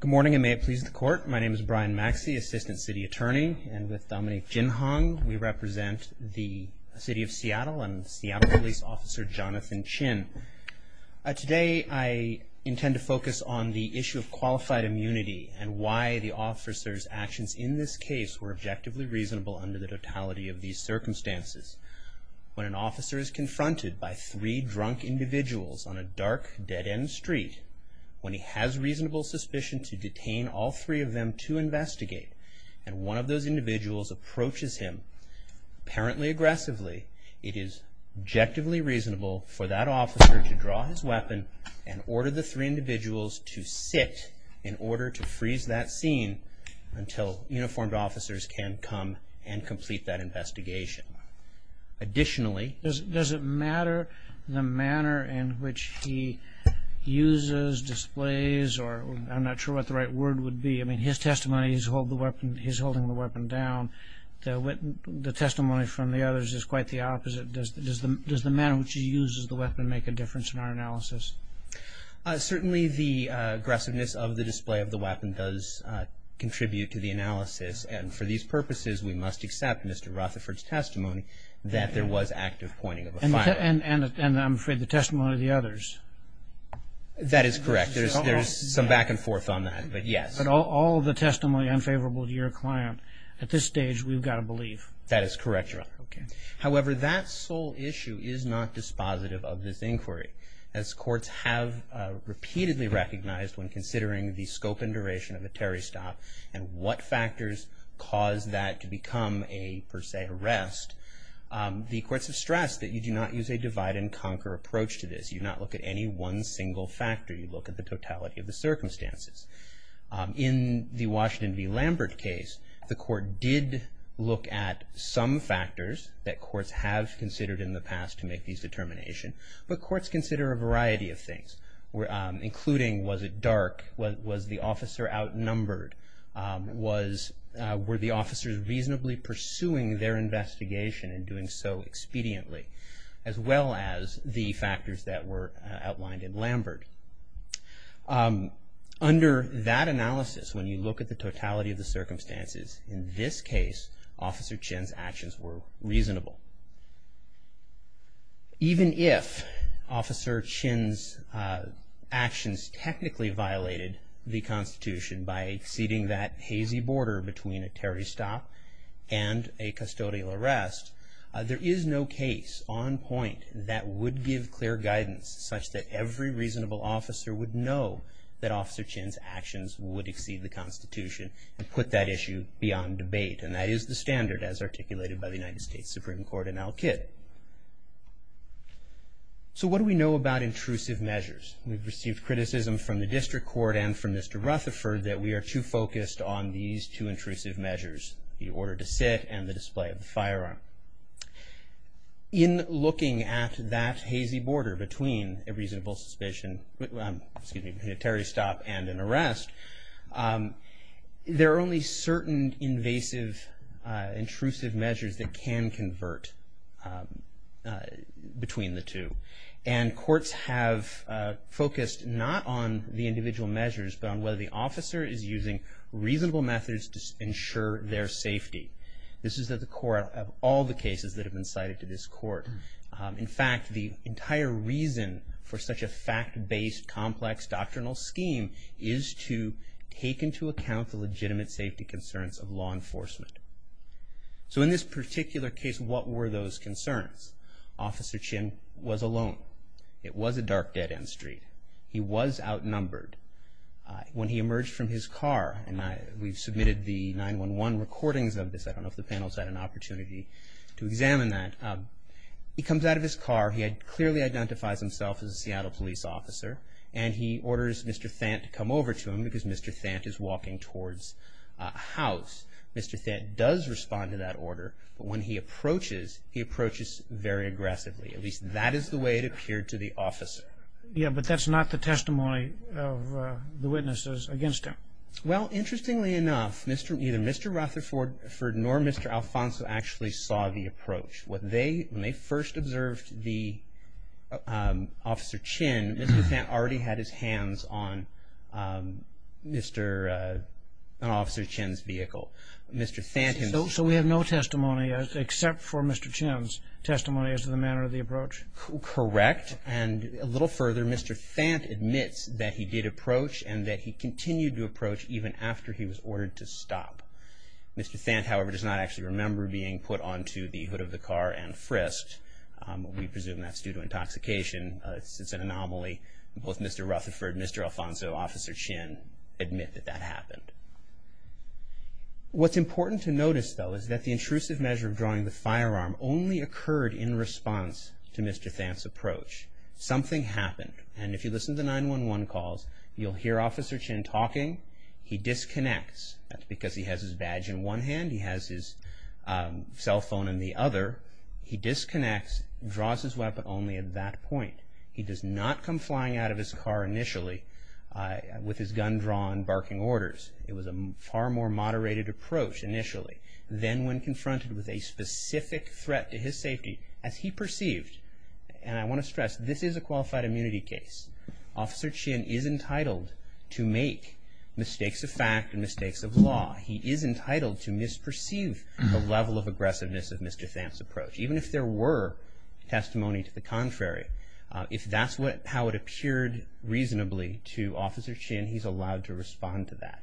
Good morning, and may it please the court. My name is Brian Maxey, Assistant City Attorney, and with Dominique Ginhong, we represent the City of Seattle and Seattle Police Officer Jonathan Chin. Today, I intend to focus on the issue of qualified immunity and why the officer's actions in this case were objectively reasonable under the totality of these circumstances. When an officer is confronted by three drunk individuals on a dark, dead-end street, when he has reasonable suspicion to detain all three of them to investigate, and one of those individuals approaches him apparently aggressively, it is objectively reasonable for that officer to draw his weapon and order the three individuals to sit in order to freeze that scene until uniformed officers can come and complete that investigation. Additionally... Does it matter the manner in which he uses, displays, or I'm not sure what the right word would be. I mean, his testimony, he's holding the weapon down. The testimony from the others is quite the opposite. Does the manner in which he uses the weapon make a difference in our analysis? Certainly, the aggressiveness of the display of the weapon does contribute to the analysis, and for these purposes, we must accept Mr. Rutherford's testimony that there was active pointing of a firearm. And I'm afraid the testimony of the others? That is correct. There's some back and forth on that, but yes. But all the testimony unfavorable to your client, at this stage, we've got to believe. That is correct, Your Honor. However, that sole issue is not dispositive of this inquiry. As courts have repeatedly recognized when considering the scope and duration of a terrorist stop and what factors caused that to become a, per se, arrest, the courts have stressed that you do not use a divide-and-conquer approach to this. You do not look at any one single factor. You look at the totality of the circumstances. In the Washington v. Lambert case, the court did look at some factors that courts have considered in the past to make these determinations, but courts consider a variety of things, including was it dark, was the officer outnumbered, were the officers reasonably pursuing their investigation and doing so expediently, as well as the factors that were outlined in Lambert. Under that analysis, when you look at the totality of the circumstances, in this case, Officer Chinn's actions were reasonable. Even if Officer Chinn's actions technically violated the Constitution by ceding that hazy border between a terrorist stop and a custodial arrest, there is no case on point that would give clear guidance such that every reasonable officer would know that Officer Chinn's actions would exceed the Constitution and put that issue beyond debate, and that is the standard as articulated by the United States Supreme Court in Elkid. So what do we know about intrusive measures? We've received criticism from the district court and from Mr. Rutherford that we are too focused on these two intrusive measures, the order to sit and the display of the firearm. In looking at that hazy border between a reasonable suspicion, excuse me, between a terrorist stop and an arrest, there are only certain invasive intrusive measures that can convert between the two, and courts have focused not on the individual measures, but on whether the officer is using reasonable methods to ensure their safety. This is at the core of all the cases that have been cited to this court. In fact, the entire reason for such a fact-based, complex, doctrinal scheme is to take into account the legitimate safety concerns of law enforcement. So in this particular case, what were those concerns? Officer Chinn was alone. It was a dark, dead-end street. He was outnumbered. When he emerged from his car, and we've submitted the 911 recordings of this. I don't know if the panel's had an opportunity to examine that. He comes out of his car. He clearly identifies himself as a Seattle police officer, and he orders Mr. Thant to come over to him because Mr. Thant is walking towards a house. Mr. Thant does respond to that order, but when he approaches, he approaches very aggressively. At least that is the way it appeared to the officer. Yeah, but that's not the testimony of the witnesses against him. Well, interestingly enough, neither Mr. Rutherford nor Mr. Alfonso actually saw the approach. When they first observed Officer Chinn, Mr. Thant already had his hands on Officer Chinn's vehicle. So we have no testimony except for Mr. Chinn's testimony as to the manner of the approach? Correct, and a little further, Mr. Thant admits that he did approach, and that he continued to approach even after he was ordered to stop. Mr. Thant, however, does not actually remember being put onto the hood of the car and frisked. We presume that's due to intoxication. It's an anomaly. Both Mr. Rutherford, Mr. Alfonso, Officer Chinn admit that that happened. What's important to notice, though, is that the intrusive measure of drawing the firearm only occurred in response to Mr. Thant's approach. Something happened, and if you listen to the 911 calls, you'll hear Officer Chinn talking. He disconnects. That's because he has his badge in one hand, he has his cell phone in the other. He disconnects, draws his weapon only at that point. He does not come flying out of his car initially with his gun drawn, barking orders. It was a far more moderated approach initially. Then when confronted with a specific threat to his safety, as he perceived, and I want to stress, this is a qualified immunity case. Officer Chinn is entitled to make mistakes of fact and mistakes of law. He is entitled to misperceive the level of aggressiveness of Mr. Thant's approach. Even if there were testimony to the contrary, if that's how it appeared reasonably to Officer Chinn, he's allowed to respond to that.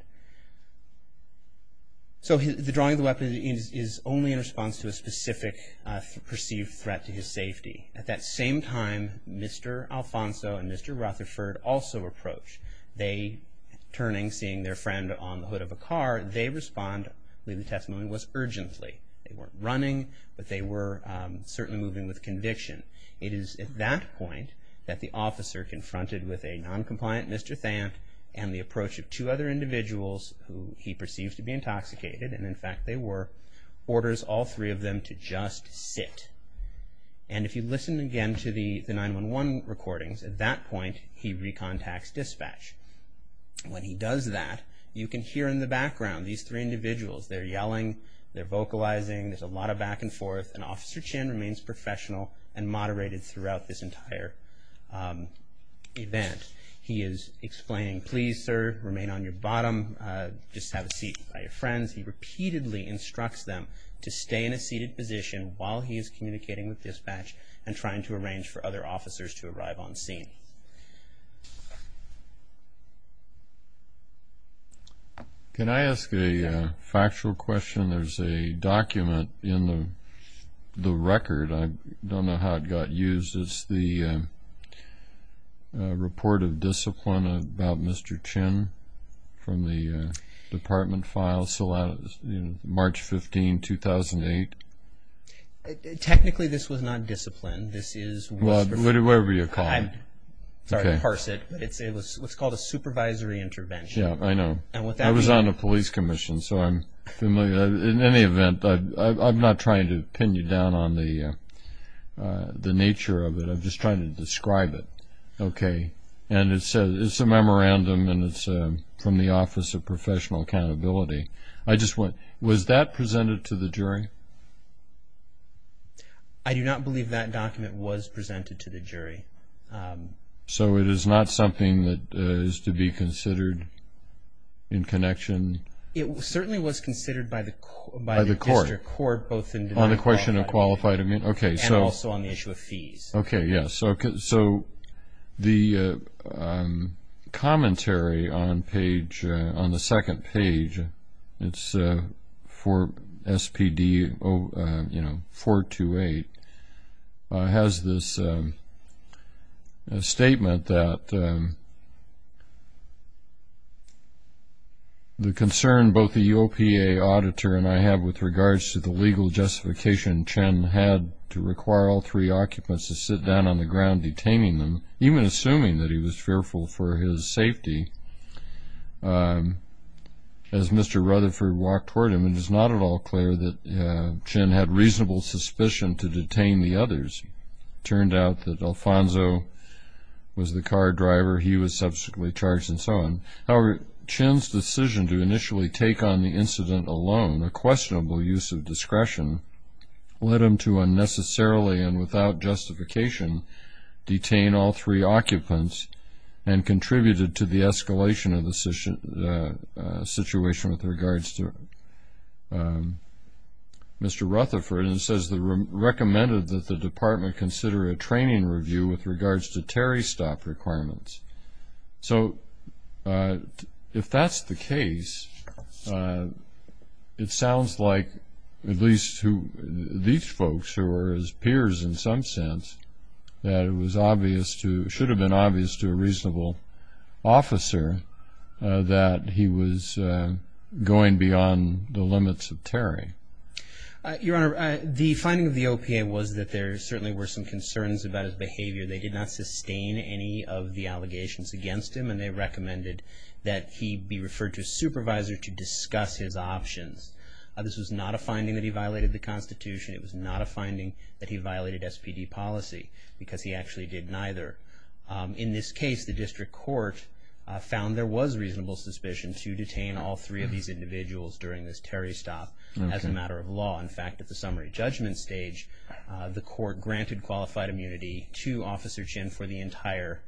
So the drawing of the weapon is only in response to a specific perceived threat to his safety. At that same time, Mr. Alfonso and Mr. Rutherford also approach. They, turning, seeing their friend on the hood of a car, they respond. The testimony was urgently. They weren't running, but they were certainly moving with conviction. It is at that point that the officer, confronted with a non-compliant Mr. Thant and the approach of two other individuals, who he perceives to be intoxicated, and in fact they were, orders all three of them to just sit. And if you listen again to the 911 recordings, at that point he recontacts dispatch. When he does that, you can hear in the background these three individuals. They're yelling, they're vocalizing, there's a lot of back and forth, and Officer Chinn remains professional and moderated throughout this entire event. He is explaining, please sir, remain on your bottom, just have a seat by your friends. He repeatedly instructs them to stay in a seated position while he is communicating with dispatch and trying to arrange for other officers to arrive on scene. Can I ask a factual question? There's a document in the record, I don't know how it got used. It's the report of discipline about Mr. Chinn from the department files, March 15, 2008. Technically this was not discipline, this is... Well, whatever you call it. Sorry to parse it, but it's what's called a supervisory intervention. Yeah, I know. It was on a police commission, so I'm familiar. In any event, I'm not trying to pin you down on the nature of it, I'm just trying to describe it. Okay, and it says it's a memorandum and it's from the Office of Professional Accountability. Was that presented to the jury? I do not believe that document was presented to the jury. So it is not something that is to be considered in connection? It certainly was considered by the court. On the question of qualified... And also on the issue of fees. Okay, yes. So the commentary on the second page, it's for SPD 428, has this statement that the concern both the UOPA auditor and I have with regards to the legal justification Chinn had to require all three occupants to sit down on the ground detaining them, even assuming that he was fearful for his safety, as Mr. Rutherford walked toward him, it is not at all clear that Chinn had reasonable suspicion to detain the others. It turned out that Alfonso was the car driver, he was subsequently charged, and so on. However, Chinn's decision to initially take on the incident alone, a questionable use of discretion, led him to unnecessarily and without justification detain all three occupants and contributed to the escalation of the situation with regards to Mr. Rutherford, and it says, recommended that the department consider a training review with regards to Terry's stop requirements. So, if that's the case, it sounds like, at least to these folks who were his peers in some sense, that it should have been obvious to a reasonable officer that he was going beyond the limits of Terry. Your Honor, the finding of the OPA was that there certainly were some concerns about his behavior. They did not sustain any of the allegations against him, and they recommended that he be referred to a supervisor to discuss his options. This was not a finding that he violated the Constitution, it was not a finding that he violated SPD policy, because he actually did neither. In this case, the district court found there was reasonable suspicion to detain all three of these individuals during this Terry stop as a matter of law. In fact, at the summary judgment stage, the court granted qualified immunity to Officer Chinn for the entire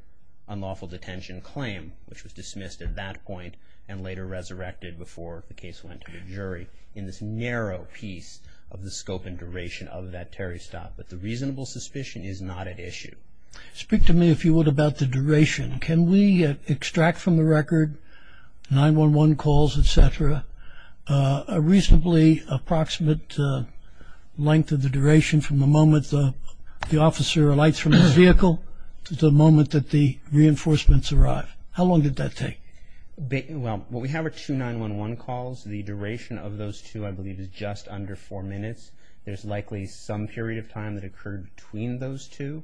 unlawful detention claim, which was dismissed at that point and later resurrected before the case went to the jury, in this narrow piece of the scope and duration of that Terry stop. But the reasonable suspicion is not at issue. Speak to me, if you would, about the duration. Can we extract from the record, 911 calls, etc., a reasonably approximate length of the duration from the moment the officer alights from the vehicle to the moment that the reinforcements arrive? How long did that take? Well, what we have are two 911 calls. The duration of those two, I believe, is just under four minutes. There's likely some period of time that occurred between those two,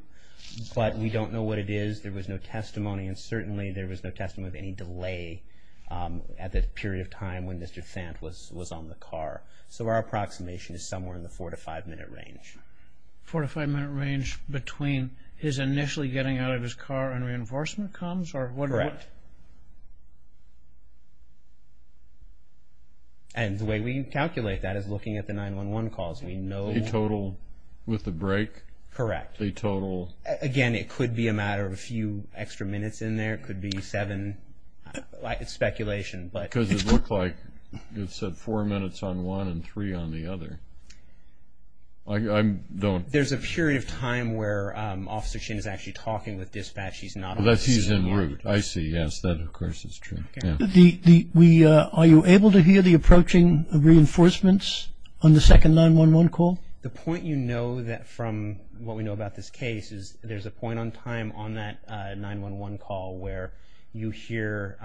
but we don't know what it is. There was no testimony, and certainly there was no testimony of any delay at the period of time when Mr. Fant was on the car. So our approximation is somewhere in the four to five minute range. Four to five minute range between his initially getting out of his car and reinforcement comes? Correct. And the way we calculate that is looking at the 911 calls. We know... The total with the break? Correct. The total... Again, it could be a matter of a few extra minutes in there. It could be seven. It's speculation, but... Because it looked like it said four minutes on one and three on the other. I don't... There's a period of time where Officer Chin is actually talking with dispatch. He's not on the scene. I see. Yes, that of course is true. Are you able to hear the approaching reinforcements on the second 911 call? The point you know from what we know about this case is there's a point in time on that 911 call where you hear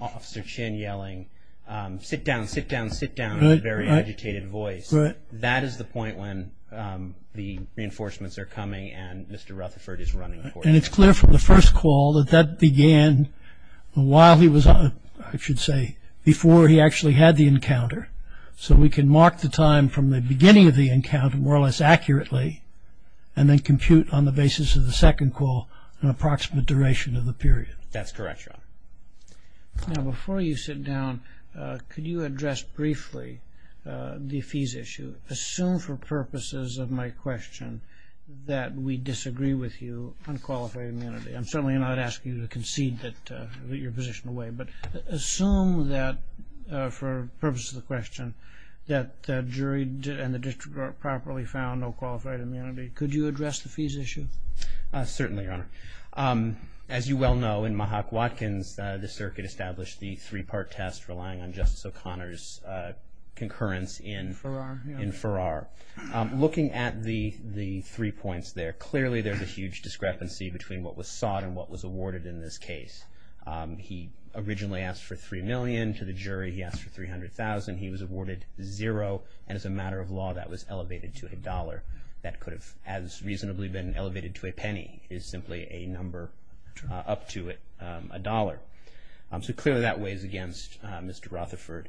Officer Chin yelling, sit down, sit down, sit down, in a very agitated voice. That is the point when the reinforcements are coming and Mr. Rutherford is running for it. And it's clear from the first call that that began while he was on... I should say before he actually had the encounter. So we can mark the time from the beginning of the encounter more or less accurately and then compute on the basis of the second call an approximate duration of the period. That's correct, Your Honor. Now before you sit down, could you address briefly the fees issue? Assume for purposes of my question that we disagree with you on qualified immunity. I'm certainly not asking you to concede your position away, but assume that for purposes of the question that the jury and the district court properly found no qualified immunity. Could you address the fees issue? Certainly, Your Honor. As you well know, in Mahak Watkins, the circuit established the three-part test relying on Justice O'Connor's concurrence in Farrar. Looking at the three points there, clearly there's a huge discrepancy between what was sought and what was awarded in this case. He originally asked for $3 million. To the jury, he asked for $300,000. He was awarded zero. And as a matter of law, that was elevated to a dollar that could have as reasonably been elevated to a penny. It is simply a number up to it, a dollar. So clearly that weighs against Mr. Rutherford.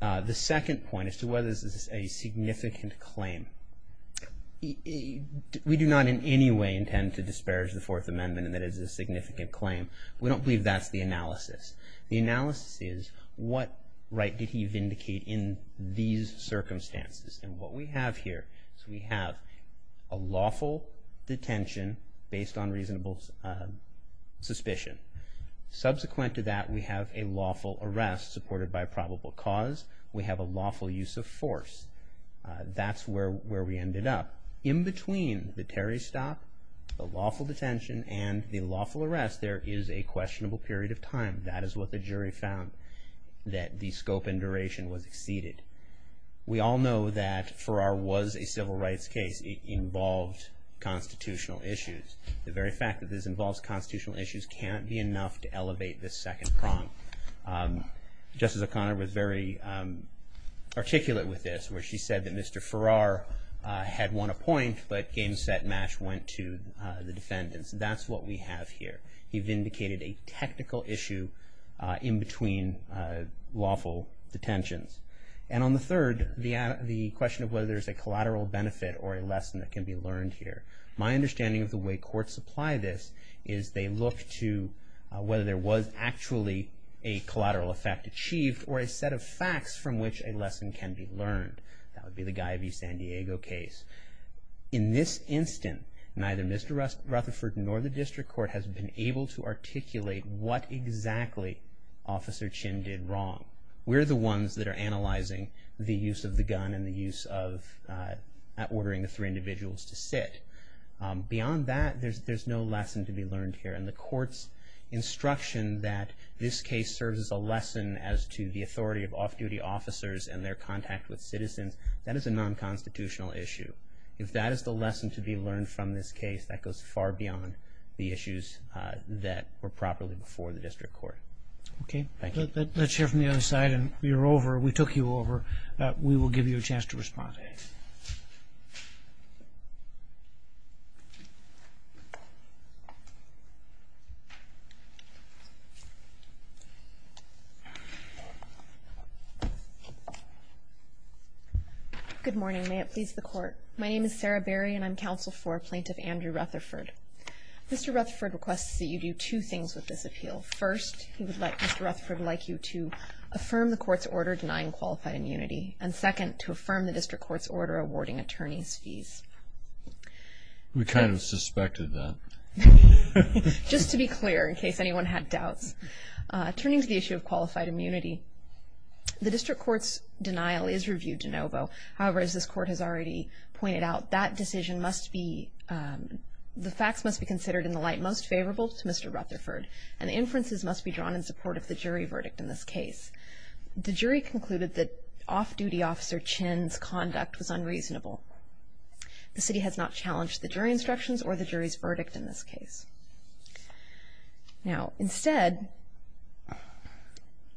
The second point as to whether this is a significant claim. We do not in any way intend to disparage the Fourth Amendment and that it is a significant claim. We don't believe that's the analysis. The analysis is what right did he vindicate in these circumstances? And what we have here is we have a lawful detention based on reasonable suspicion. Subsequent to that, we have a lawful arrest supported by probable cause. We have a lawful use of force. That's where we ended up. In between the Terry stop, the lawful detention, and the lawful arrest, there is a questionable period of time. That is what the jury found, that the scope and duration was exceeded. We all know that Farrar was a civil rights case. It involved constitutional issues. The very fact that this involves constitutional issues can't be enough to elevate the second prong. Justice O'Connor was very articulate with this, where she said that Mr. Farrar had won a point, but game, set, match went to the defendants. That's what we have here. He vindicated a technical issue in between lawful detentions. And on the third, the question of whether there's a collateral benefit or a lesson that can be learned here. My understanding of the way courts apply this is they look to whether there was actually a collateral effect achieved or a set of facts from which a lesson can be learned. That would be the Guy v. San Diego case. In this instance, neither Mr. Rutherford nor the district court has been able to articulate what exactly Officer Chin did wrong. We're the ones that are analyzing the use of the gun and the use of ordering the three individuals to sit. Beyond that, there's no lesson to be learned here. And the court's instruction that this case serves as a lesson as to the authority of off-duty officers and their contact with citizens, that is a non-constitutional issue. If that is the lesson to be learned from this case, that goes far beyond the issues that were properly before the district court. Thank you. Let's hear from the other side. We took you over. We will give you a chance to respond. Thank you. Good morning. May it please the court. My name is Sarah Berry, and I'm counsel for Plaintiff Andrew Rutherford. Mr. Rutherford requests that you do two things with this appeal. First, he would like Mr. Rutherford like you to affirm the court's order denying qualified immunity, and second, to affirm the district court's order awarding attorneys fees. We kind of suspected that. Just to be clear, in case anyone had doubts. Turning to the issue of qualified immunity, the district court's denial is reviewed de novo. However, as this court has already pointed out, that decision must be, the facts must be considered in the light most favorable to Mr. Rutherford, and the inferences must be drawn in support of the jury verdict in this case. The jury concluded that off-duty Officer Chinn's conduct was unreasonable. The city has not challenged the jury instructions or the jury's verdict in this case. Now, instead,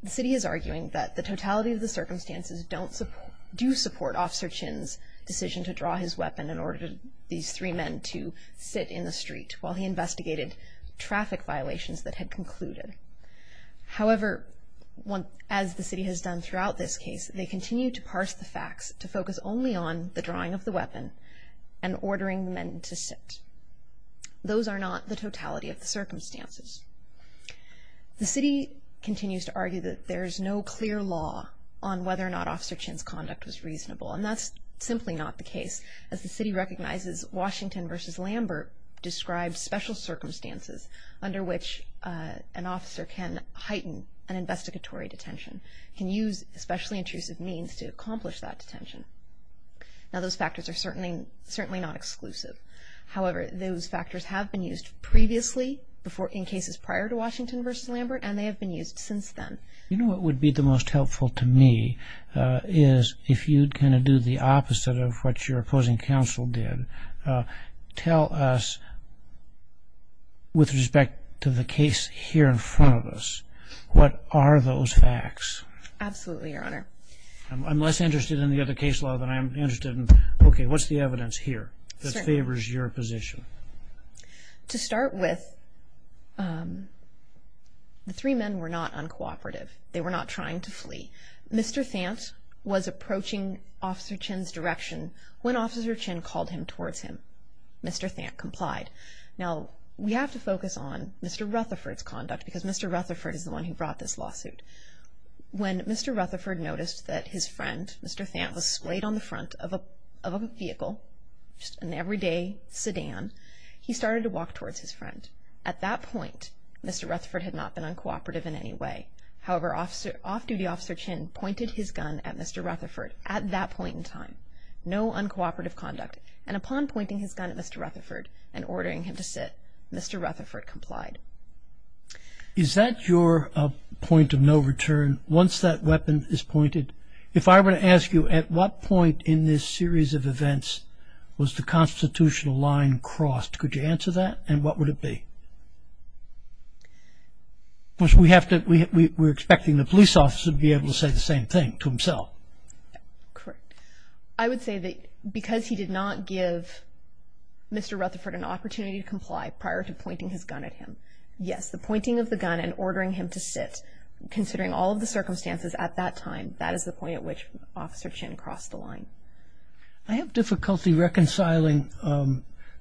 the city is arguing that the totality of the circumstances do support Officer Chinn's decision to draw his weapon in order for these three men to sit in the street while he investigated traffic violations that had concluded. However, as the city has done throughout this case, they continue to parse the facts to focus only on the drawing of the weapon and ordering the men to sit. Those are not the totality of the circumstances. The city continues to argue that there is no clear law on whether or not Officer Chinn's conduct was reasonable, and that's simply not the case, as the city recognizes Washington versus Lambert described special circumstances under which an officer can heighten an investigatory detention, can use especially intrusive means to accomplish that detention. Now, those factors are certainly not exclusive. However, those factors have been used previously in cases prior to Washington versus Lambert, and they have been used since then. You know what would be the most helpful to me is if you'd kind of do the opposite of what your opposing counsel did. Tell us with respect to the case here in front of us, what are those facts? Absolutely, Your Honor. I'm less interested in the other case law than I'm interested in, okay, what's the evidence here that favors your position? To start with, the three men were not uncooperative. They were not trying to flee. Mr. Thant was approaching Officer Chinn's direction when Officer Chinn called him towards him. Mr. Thant complied. Now, we have to focus on Mr. Rutherford's conduct because Mr. Rutherford is the one who brought this lawsuit. When Mr. Rutherford noticed that his friend, Mr. Thant, was swayed on the front of a vehicle, just an everyday sedan, he started to walk towards his friend. At that point, Mr. Rutherford had not been uncooperative in any way. However, Off-Duty Officer Chinn pointed his gun at Mr. Rutherford at that point in time. No uncooperative conduct. He pointed his gun at Mr. Rutherford and ordering him to sit. Mr. Rutherford complied. Is that your point of no return? Once that weapon is pointed, if I were to ask you, at what point in this series of events was the constitutional line crossed? Could you answer that? And what would it be? Because we have to, we're expecting the police officer to be able to say the same thing to himself. Correct. I would say that because he did not give Mr. Rutherford an opportunity to comply prior to pointing his gun at him, yes, the pointing of the gun and ordering him to sit, considering all of the circumstances at that time, that is the point at which Officer Chinn crossed the line. I have difficulty reconciling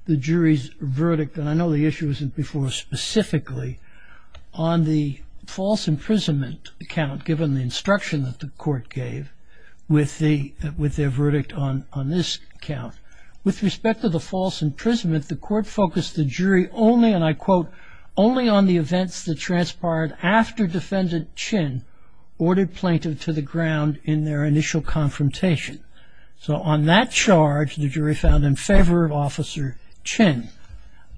the jury's verdict, and I know the issue wasn't before specifically, on the false imprisonment account, given the instruction that the court gave, with their verdict on this account. With respect to the false imprisonment, the court focused the jury only, and I quote, only on the events that transpired after Defendant Chinn ordered plaintiff to the ground in their initial confrontation. So on that charge, the jury found in favor of Officer Chinn.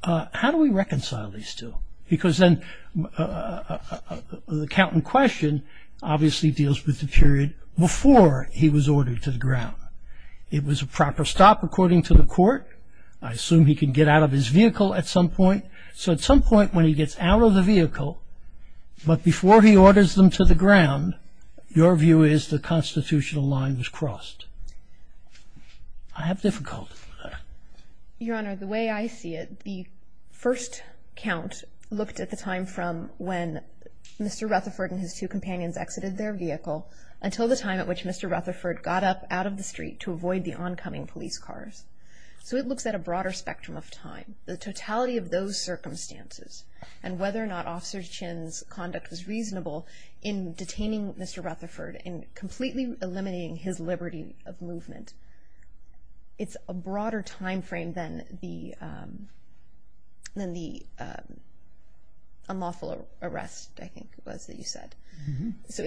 How do we reconcile these two? Because then, the count in question obviously deals with the period before he was ordered to the ground. It was a proper stop, according to the court. I assume he can get out of his vehicle at some point. So at some point, when he gets out of the vehicle, but before he orders them to the ground, your view is the constitutional line was crossed. I have difficulty with that. Your Honor, the way I see it, the first count looked at the time from when Mr. Rutherford and his two companions exited their vehicle, when Mr. Rutherford got up out of the street to avoid the oncoming police cars. So it looks at a broader spectrum of time. The totality of those circumstances, and whether or not Officer Chinn's conduct was reasonable in detaining Mr. Rutherford and completely eliminating his liberty of movement, it's a broader time frame than the unlawful arrest, I think it was that you said. So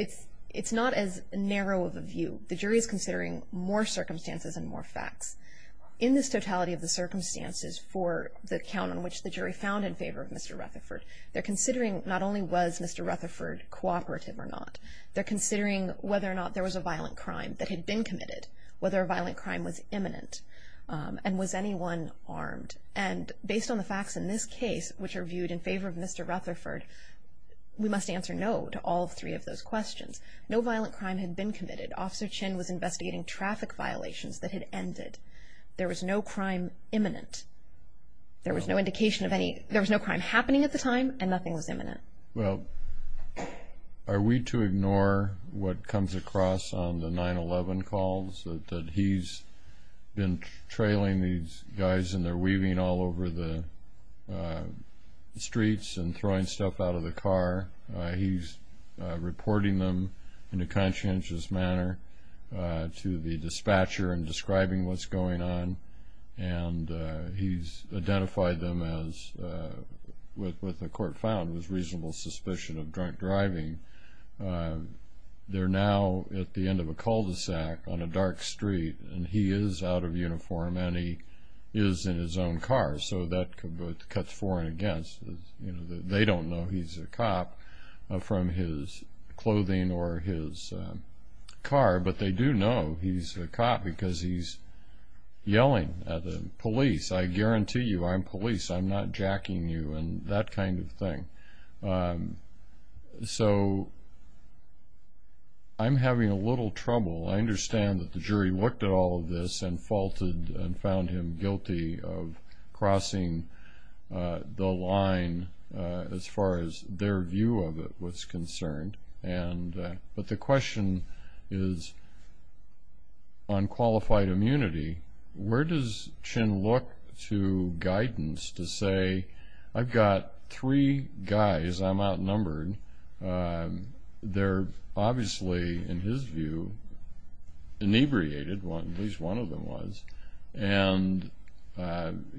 it's not as narrow of a view the jury is considering more circumstances and more facts. In this totality of the circumstances for the count on which the jury found in favor of Mr. Rutherford, they're considering not only was Mr. Rutherford cooperative or not, they're considering whether or not there was a violent crime that had been committed, whether a violent crime was imminent, and was anyone armed. And based on the facts in this case, which are viewed in favor of Mr. Rutherford, we must answer no to all three of those questions. We know that Mr. Chinn was investigating traffic violations that had ended. There was no crime imminent. There was no indication of any, there was no crime happening at the time, and nothing was imminent. Well, are we to ignore what comes across on the 9-11 calls, that he's been trailing these guys and they're weaving all over the streets and throwing stuff out of the car. He's reporting them in a conscientious manner. To the dispatcher and describing what's going on. And he's identified them as, what the court found was reasonable suspicion of drunk driving. They're now at the end of a cul-de-sac on a dark street, and he is out of uniform and he is in his own car, so that cuts for and against. They don't know he's a cop from his clothing or his car, but they do know he's a cop because he's yelling at the police. I guarantee you I'm police. I'm not jacking you and that kind of thing. So, I'm having a little trouble. I understand that the jury looked at all of this and faulted and found him guilty of crossing the line as far as their view of it was concerned. But the question is, on qualified immunity, where does Chin look to guidance to say, I've got three guys, I'm outnumbered. They're obviously, in his view, inebriated, at least one of them was. And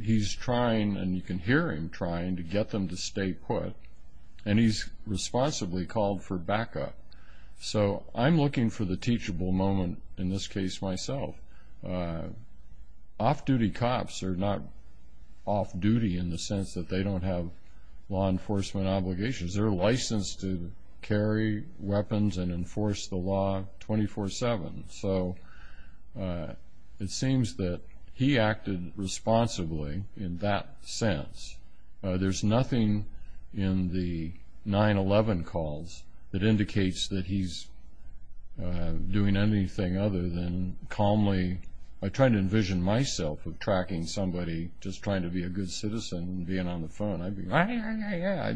he's trying, and you can hear him trying, to get them to stay put. And he's responsibly called back up. So, I'm looking for the teachable moment in this case myself. Off-duty cops are not off-duty in the sense that they don't have law enforcement obligations. They're licensed to carry weapons and enforce the law 24-7. So, it seems that he acted responsibly in that sense. There's nothing in the 9-11 calls that indicates that he's doing anything other than calmly, I try to envision myself with tracking somebody, just trying to be a good citizen and being on the phone. I'd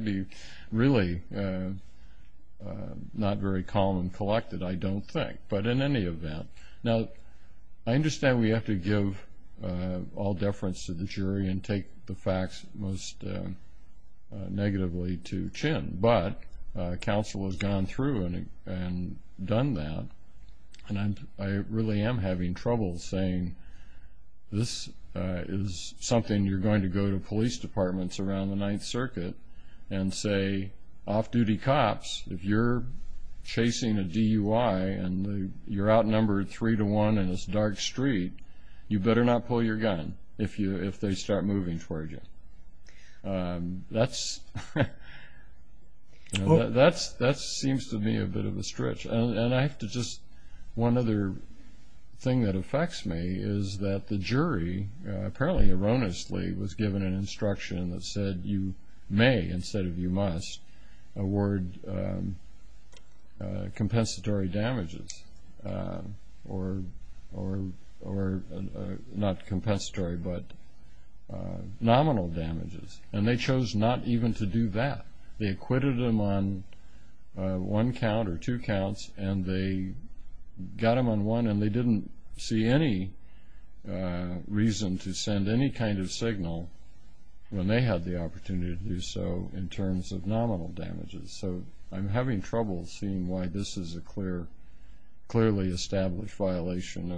be really not very calm and collected, I don't think. But in any event, now, I understand we have to give all deference to the jury and take the facts most negatively to Chin. But, counsel has gone through and done that. And I really am having trouble saying this is something you're going to go to police departments around the 9th Circuit and say, off-duty cops, if you're chasing a DUI and you're outnumbered three to one in this dark street, you better not pull your gun if they start moving towards you. That's, that seems to me a bit of a stretch. And I have to just, one other thing that affects me is that the jury, apparently erroneously, was given an instruction that said you may, instead of you must, award compensatory damages. Or, not compensatory, but nominal damages. And they chose not even to do that. They acquitted him on one count or two counts and they got him on one and they didn't see any reason to send any kind of signal when they had the opportunity to do so in terms of nominal damages. So, I'm having trouble seeing why this is a clear, clearly established violation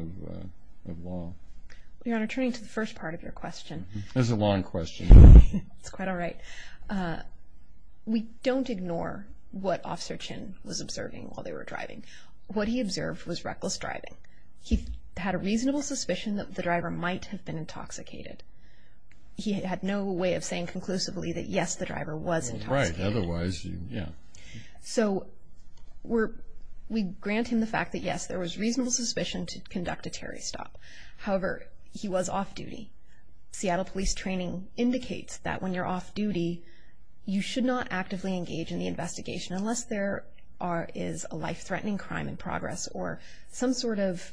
of law. Your Honor, turning to the first part of your question. This is a long question. It's quite all right. We don't ignore what Officer Chin was observing while they were driving. What he observed was reckless driving. He had a reasonable suspicion that the driver might have been intoxicated. He had no way of saying conclusively that yes, the driver was intoxicated. Right, otherwise, yeah. So, we're, we grant him the fact that yes, there was reasonable suspicion to conduct a Terry stop. However, he was off-duty. Seattle Police Training indicates that when you're off-duty, you should not actively engage in the investigation unless there are, is a life-threatening crime in progress or some sort of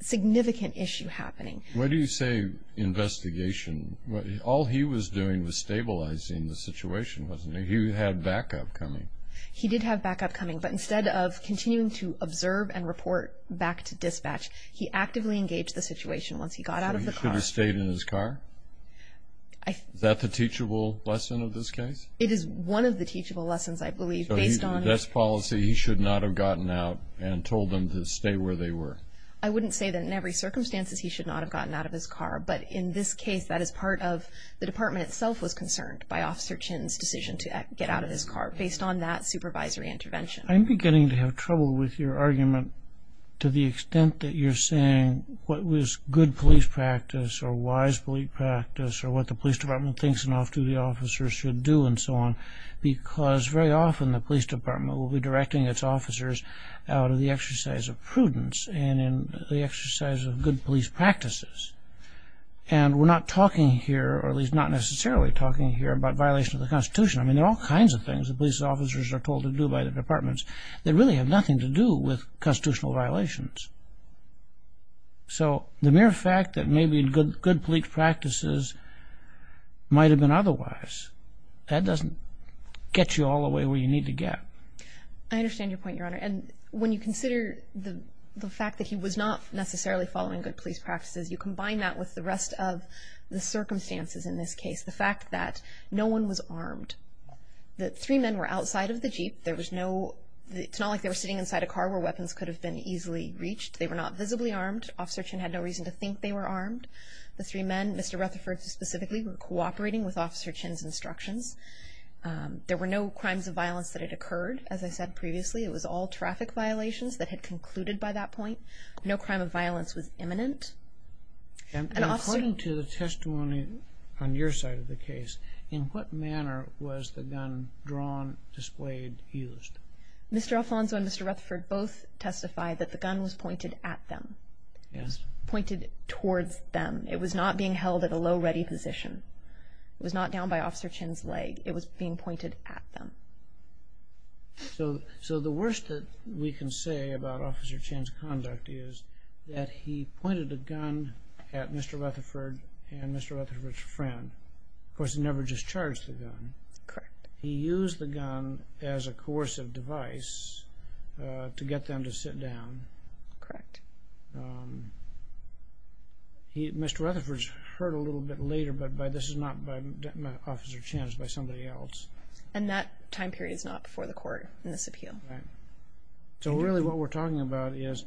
significant issue happening. Why do you say investigation? All he was doing was stabilizing the situation, wasn't he? He had backup coming. He did have backup coming, so he could observe and report back to dispatch. He actively engaged the situation once he got out of the car. So, he should have stayed in his car? Is that the teachable lesson of this case? It is one of the teachable lessons, I believe, based on... So, his best policy, he should not have gotten out and told them to stay where they were. I wouldn't say that in every circumstance he should not have gotten out of his car, but in this case, that is part of, to the extent that you're saying what was good police practice or wise police practice or what the police department thinks an officer should do and so on, because very often the police department will be directing its officers out of the exercise of prudence and in the exercise of good police practices. And we're not talking here, or at least not necessarily talking here about violation of the Constitution. I mean, there are all kinds of things that police officers are told to do by the departments that really have nothing to do with constitutional violations. So, the mere fact that maybe good police practices might have been otherwise, that doesn't get you all the way where you need to get. I understand your point, Your Honor. And when you consider the fact that he was not necessarily following good police practices, you combine that with the rest of the circumstances in this case, the fact that no one was armed, it's not like they were sitting inside a car where weapons could have been easily reached. They were not visibly armed. Officer Chinn had no reason to think they were armed. The three men, Mr. Rutherford specifically, were cooperating with Officer Chinn's instructions. There were no crimes of violence that had occurred, as I said previously. It was all traffic violations that had concluded by that point. No crime of violence was imminent. And according to the testimony of Mr. Alfonso and Mr. Rutherford, both testified that the gun was pointed at them, pointed towards them. It was not being held at a low ready position. It was not down by Officer Chinn's leg. It was being pointed at them. So the worst that we can say about Officer Chinn's conduct is that he pointed a gun at Mr. Rutherford and Mr. Rutherford's friend. Of course, he never discharged the gun. Correct. He used the gun as a coercive device to get them to sit down. Correct. Mr. Rutherford's hurt a little bit later, but this is not by Officer Chinn, it's by somebody else. And that time period is not before the court in this appeal. So really what we're talking about is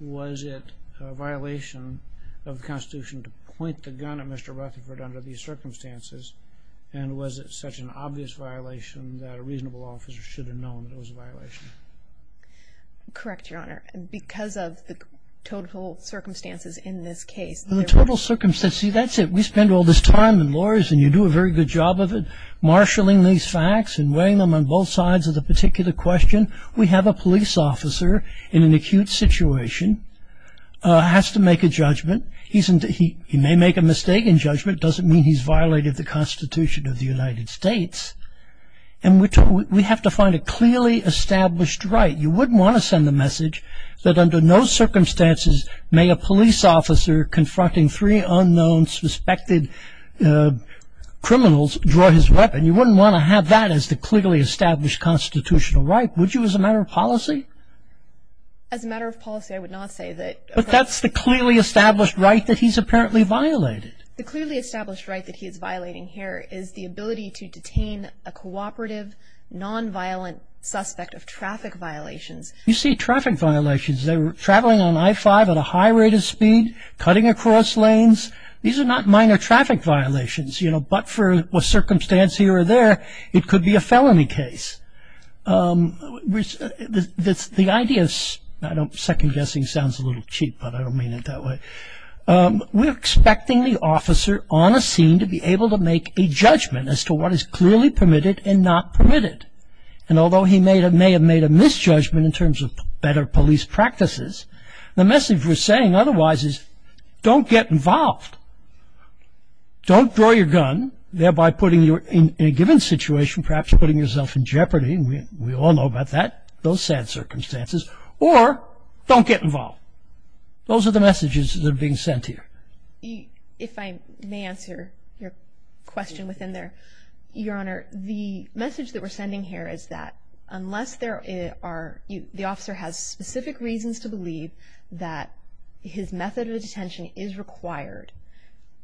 was it a violation of the Constitution to point the gun at Mr. Rutherford under these circumstances, or was it a violation that a reasonable officer should have known it was a violation? Correct, Your Honor. Because of the total circumstances in this case. The total circumstances. See, that's it. We spend all this time in lawyers and you do a very good job of it marshalling these facts and weighing them on both sides of the particular question. We have a police officer in an acute situation and we have to find a clearly established right. You wouldn't want to send the message that under no circumstances may a police officer confronting three unknown suspected criminals draw his weapon. You wouldn't want to have that as the clearly established constitutional right, would you as a matter of policy? As a matter of policy, I would not say that. But that's the clearly established right that he's apparently violated. The clearly established right that he is violating here is the ability to detain a cooperative, non-violent suspect of traffic violations. You see traffic violations. They were traveling on I-5 at a high rate of speed, cutting across lanes. These are not minor traffic violations, you know, but for a circumstance here or there, it could be a felony case. The idea is, I know second-guessing sounds a little cheap, but I don't mean it that way. We're expecting the officer on a scene to be able to make a judgment as to what is clearly permitted and not permitted. And although he may have made a misjudgment in terms of better police practices, the message we're saying otherwise is, don't get involved. Don't draw your gun, thereby putting you in a given situation, perhaps putting yourself in jeopardy, we all know about that, those sad circumstances, or don't get involved. Those are the messages that are being sent here. If I may answer your question within there, Your Honor, the message that we're sending here is that unless there are, the officer has specific reasons to believe that his method of detention is required,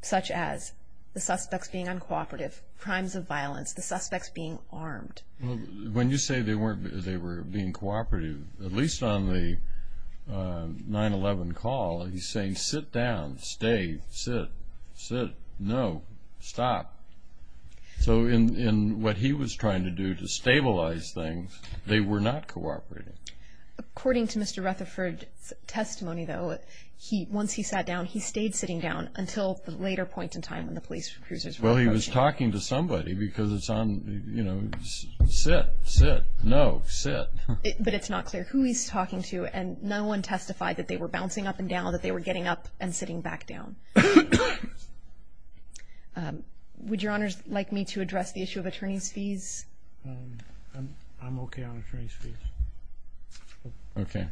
such as the suspects being uncooperative, crimes of violence, the suspects being armed. When you say they were being cooperative, at least on the 9-11 call, he's saying sit down, stay, sit, sit, no, stop. So in what he was trying to do to stabilize things, they were not cooperating. According to Mr. Rutherford's testimony though, once he sat down, he stayed sitting down until the later point in time when the police recusers were approaching. Well he was talking to somebody because it's on, you know, sit, sit, no, sit. But it's not clear who he's talking to and no one testified that they were bouncing up and down, that they were getting up and sitting back down. Would your honors like me to address the issue of attorney's fees? I'm okay on attorney's fees. Okay.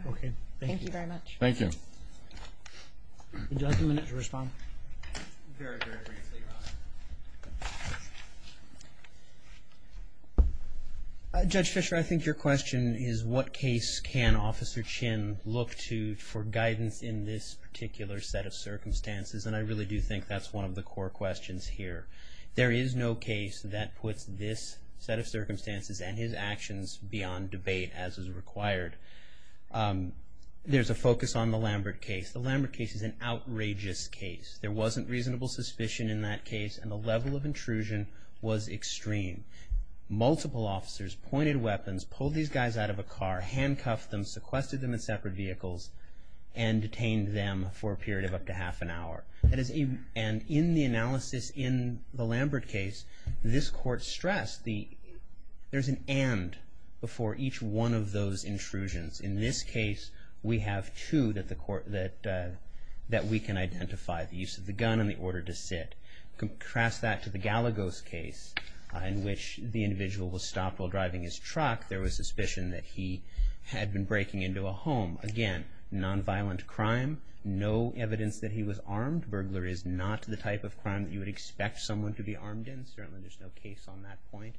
Thank you very much. Thank you. Do I have two minutes to respond? Very briefly, your honor. Judge Fisher, I think your question is what case can Officer Chin look to for guidance in this particular set of circumstances and I really do think that's one of the core questions here. There is no case that puts this set of circumstances and his actions beyond debate as is required. There's a focus on the Lambert case. The Lambert case is an outrageous case. There wasn't reasonable suspicion in that case and the level of intrusion was extreme. Multiple officers pointed weapons, pulled these guys out of a car, handcuffed them, sequestered them in separate vehicles and detained them for a period of up to half an hour. And in the analysis in the Lambert case, this court stressed there's an and before each one of those intrusions. In this case, we have two that we can identify. The use of the gun and the order to sit. Contrast that to the Galagos case in which the individual was stopped while he had been breaking into a home. Again, non-violent crime. No evidence that he was armed. Burglary is not the type of crime that you would expect someone to be armed in. Certainly, there's no case on that point.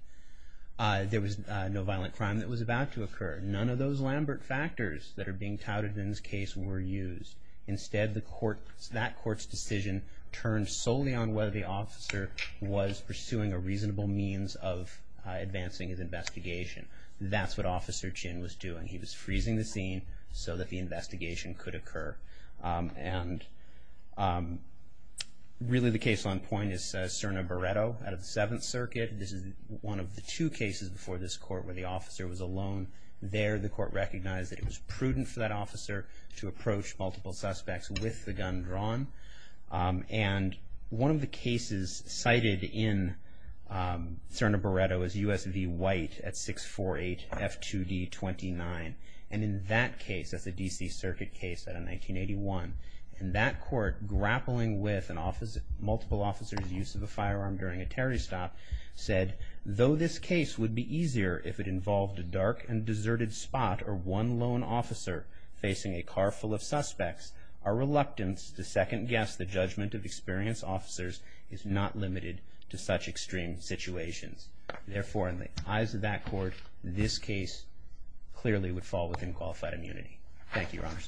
There was no violent crime that was about to occur. None of those Lambert factors that are being touted in this case were used. Instead, that court's decision turned solely on whether the officer was pursuing a reasonable means of advancing his investigation. That's what Officer Chin was doing. He was freezing the scene so that the investigation could occur. the case on point is Serna-Baretto out of the Seventh Circuit. This is one of the two cases before this court where the officer was alone. There, the court recognized that it was prudent for that officer to approach multiple suspects with the gun drawn. One of the cases cited in Serna-Baretto is U.S. V. White at 648 F2D 29. In that case, that's a D.C. Circuit case out of 1981, that court grappling with multiple officers' use of a firearm during a stop, said, though this case would be easier if it involved a dark and deserted spot or one lone officer facing a car full of suspects, our reluctance to second-guess the judgment of experienced officers is not limited to such extreme situations. Therefore, in the eyes of that court, this case clearly would fall within qualified immunity. Thank you, Your Honor.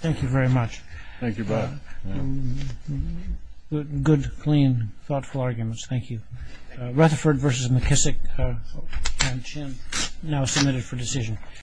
Thank you very much. Thank you, Bob. Good, clean, thoughtful arguments. Thank you. Rutherford v. McKissack and Chin, now submitted for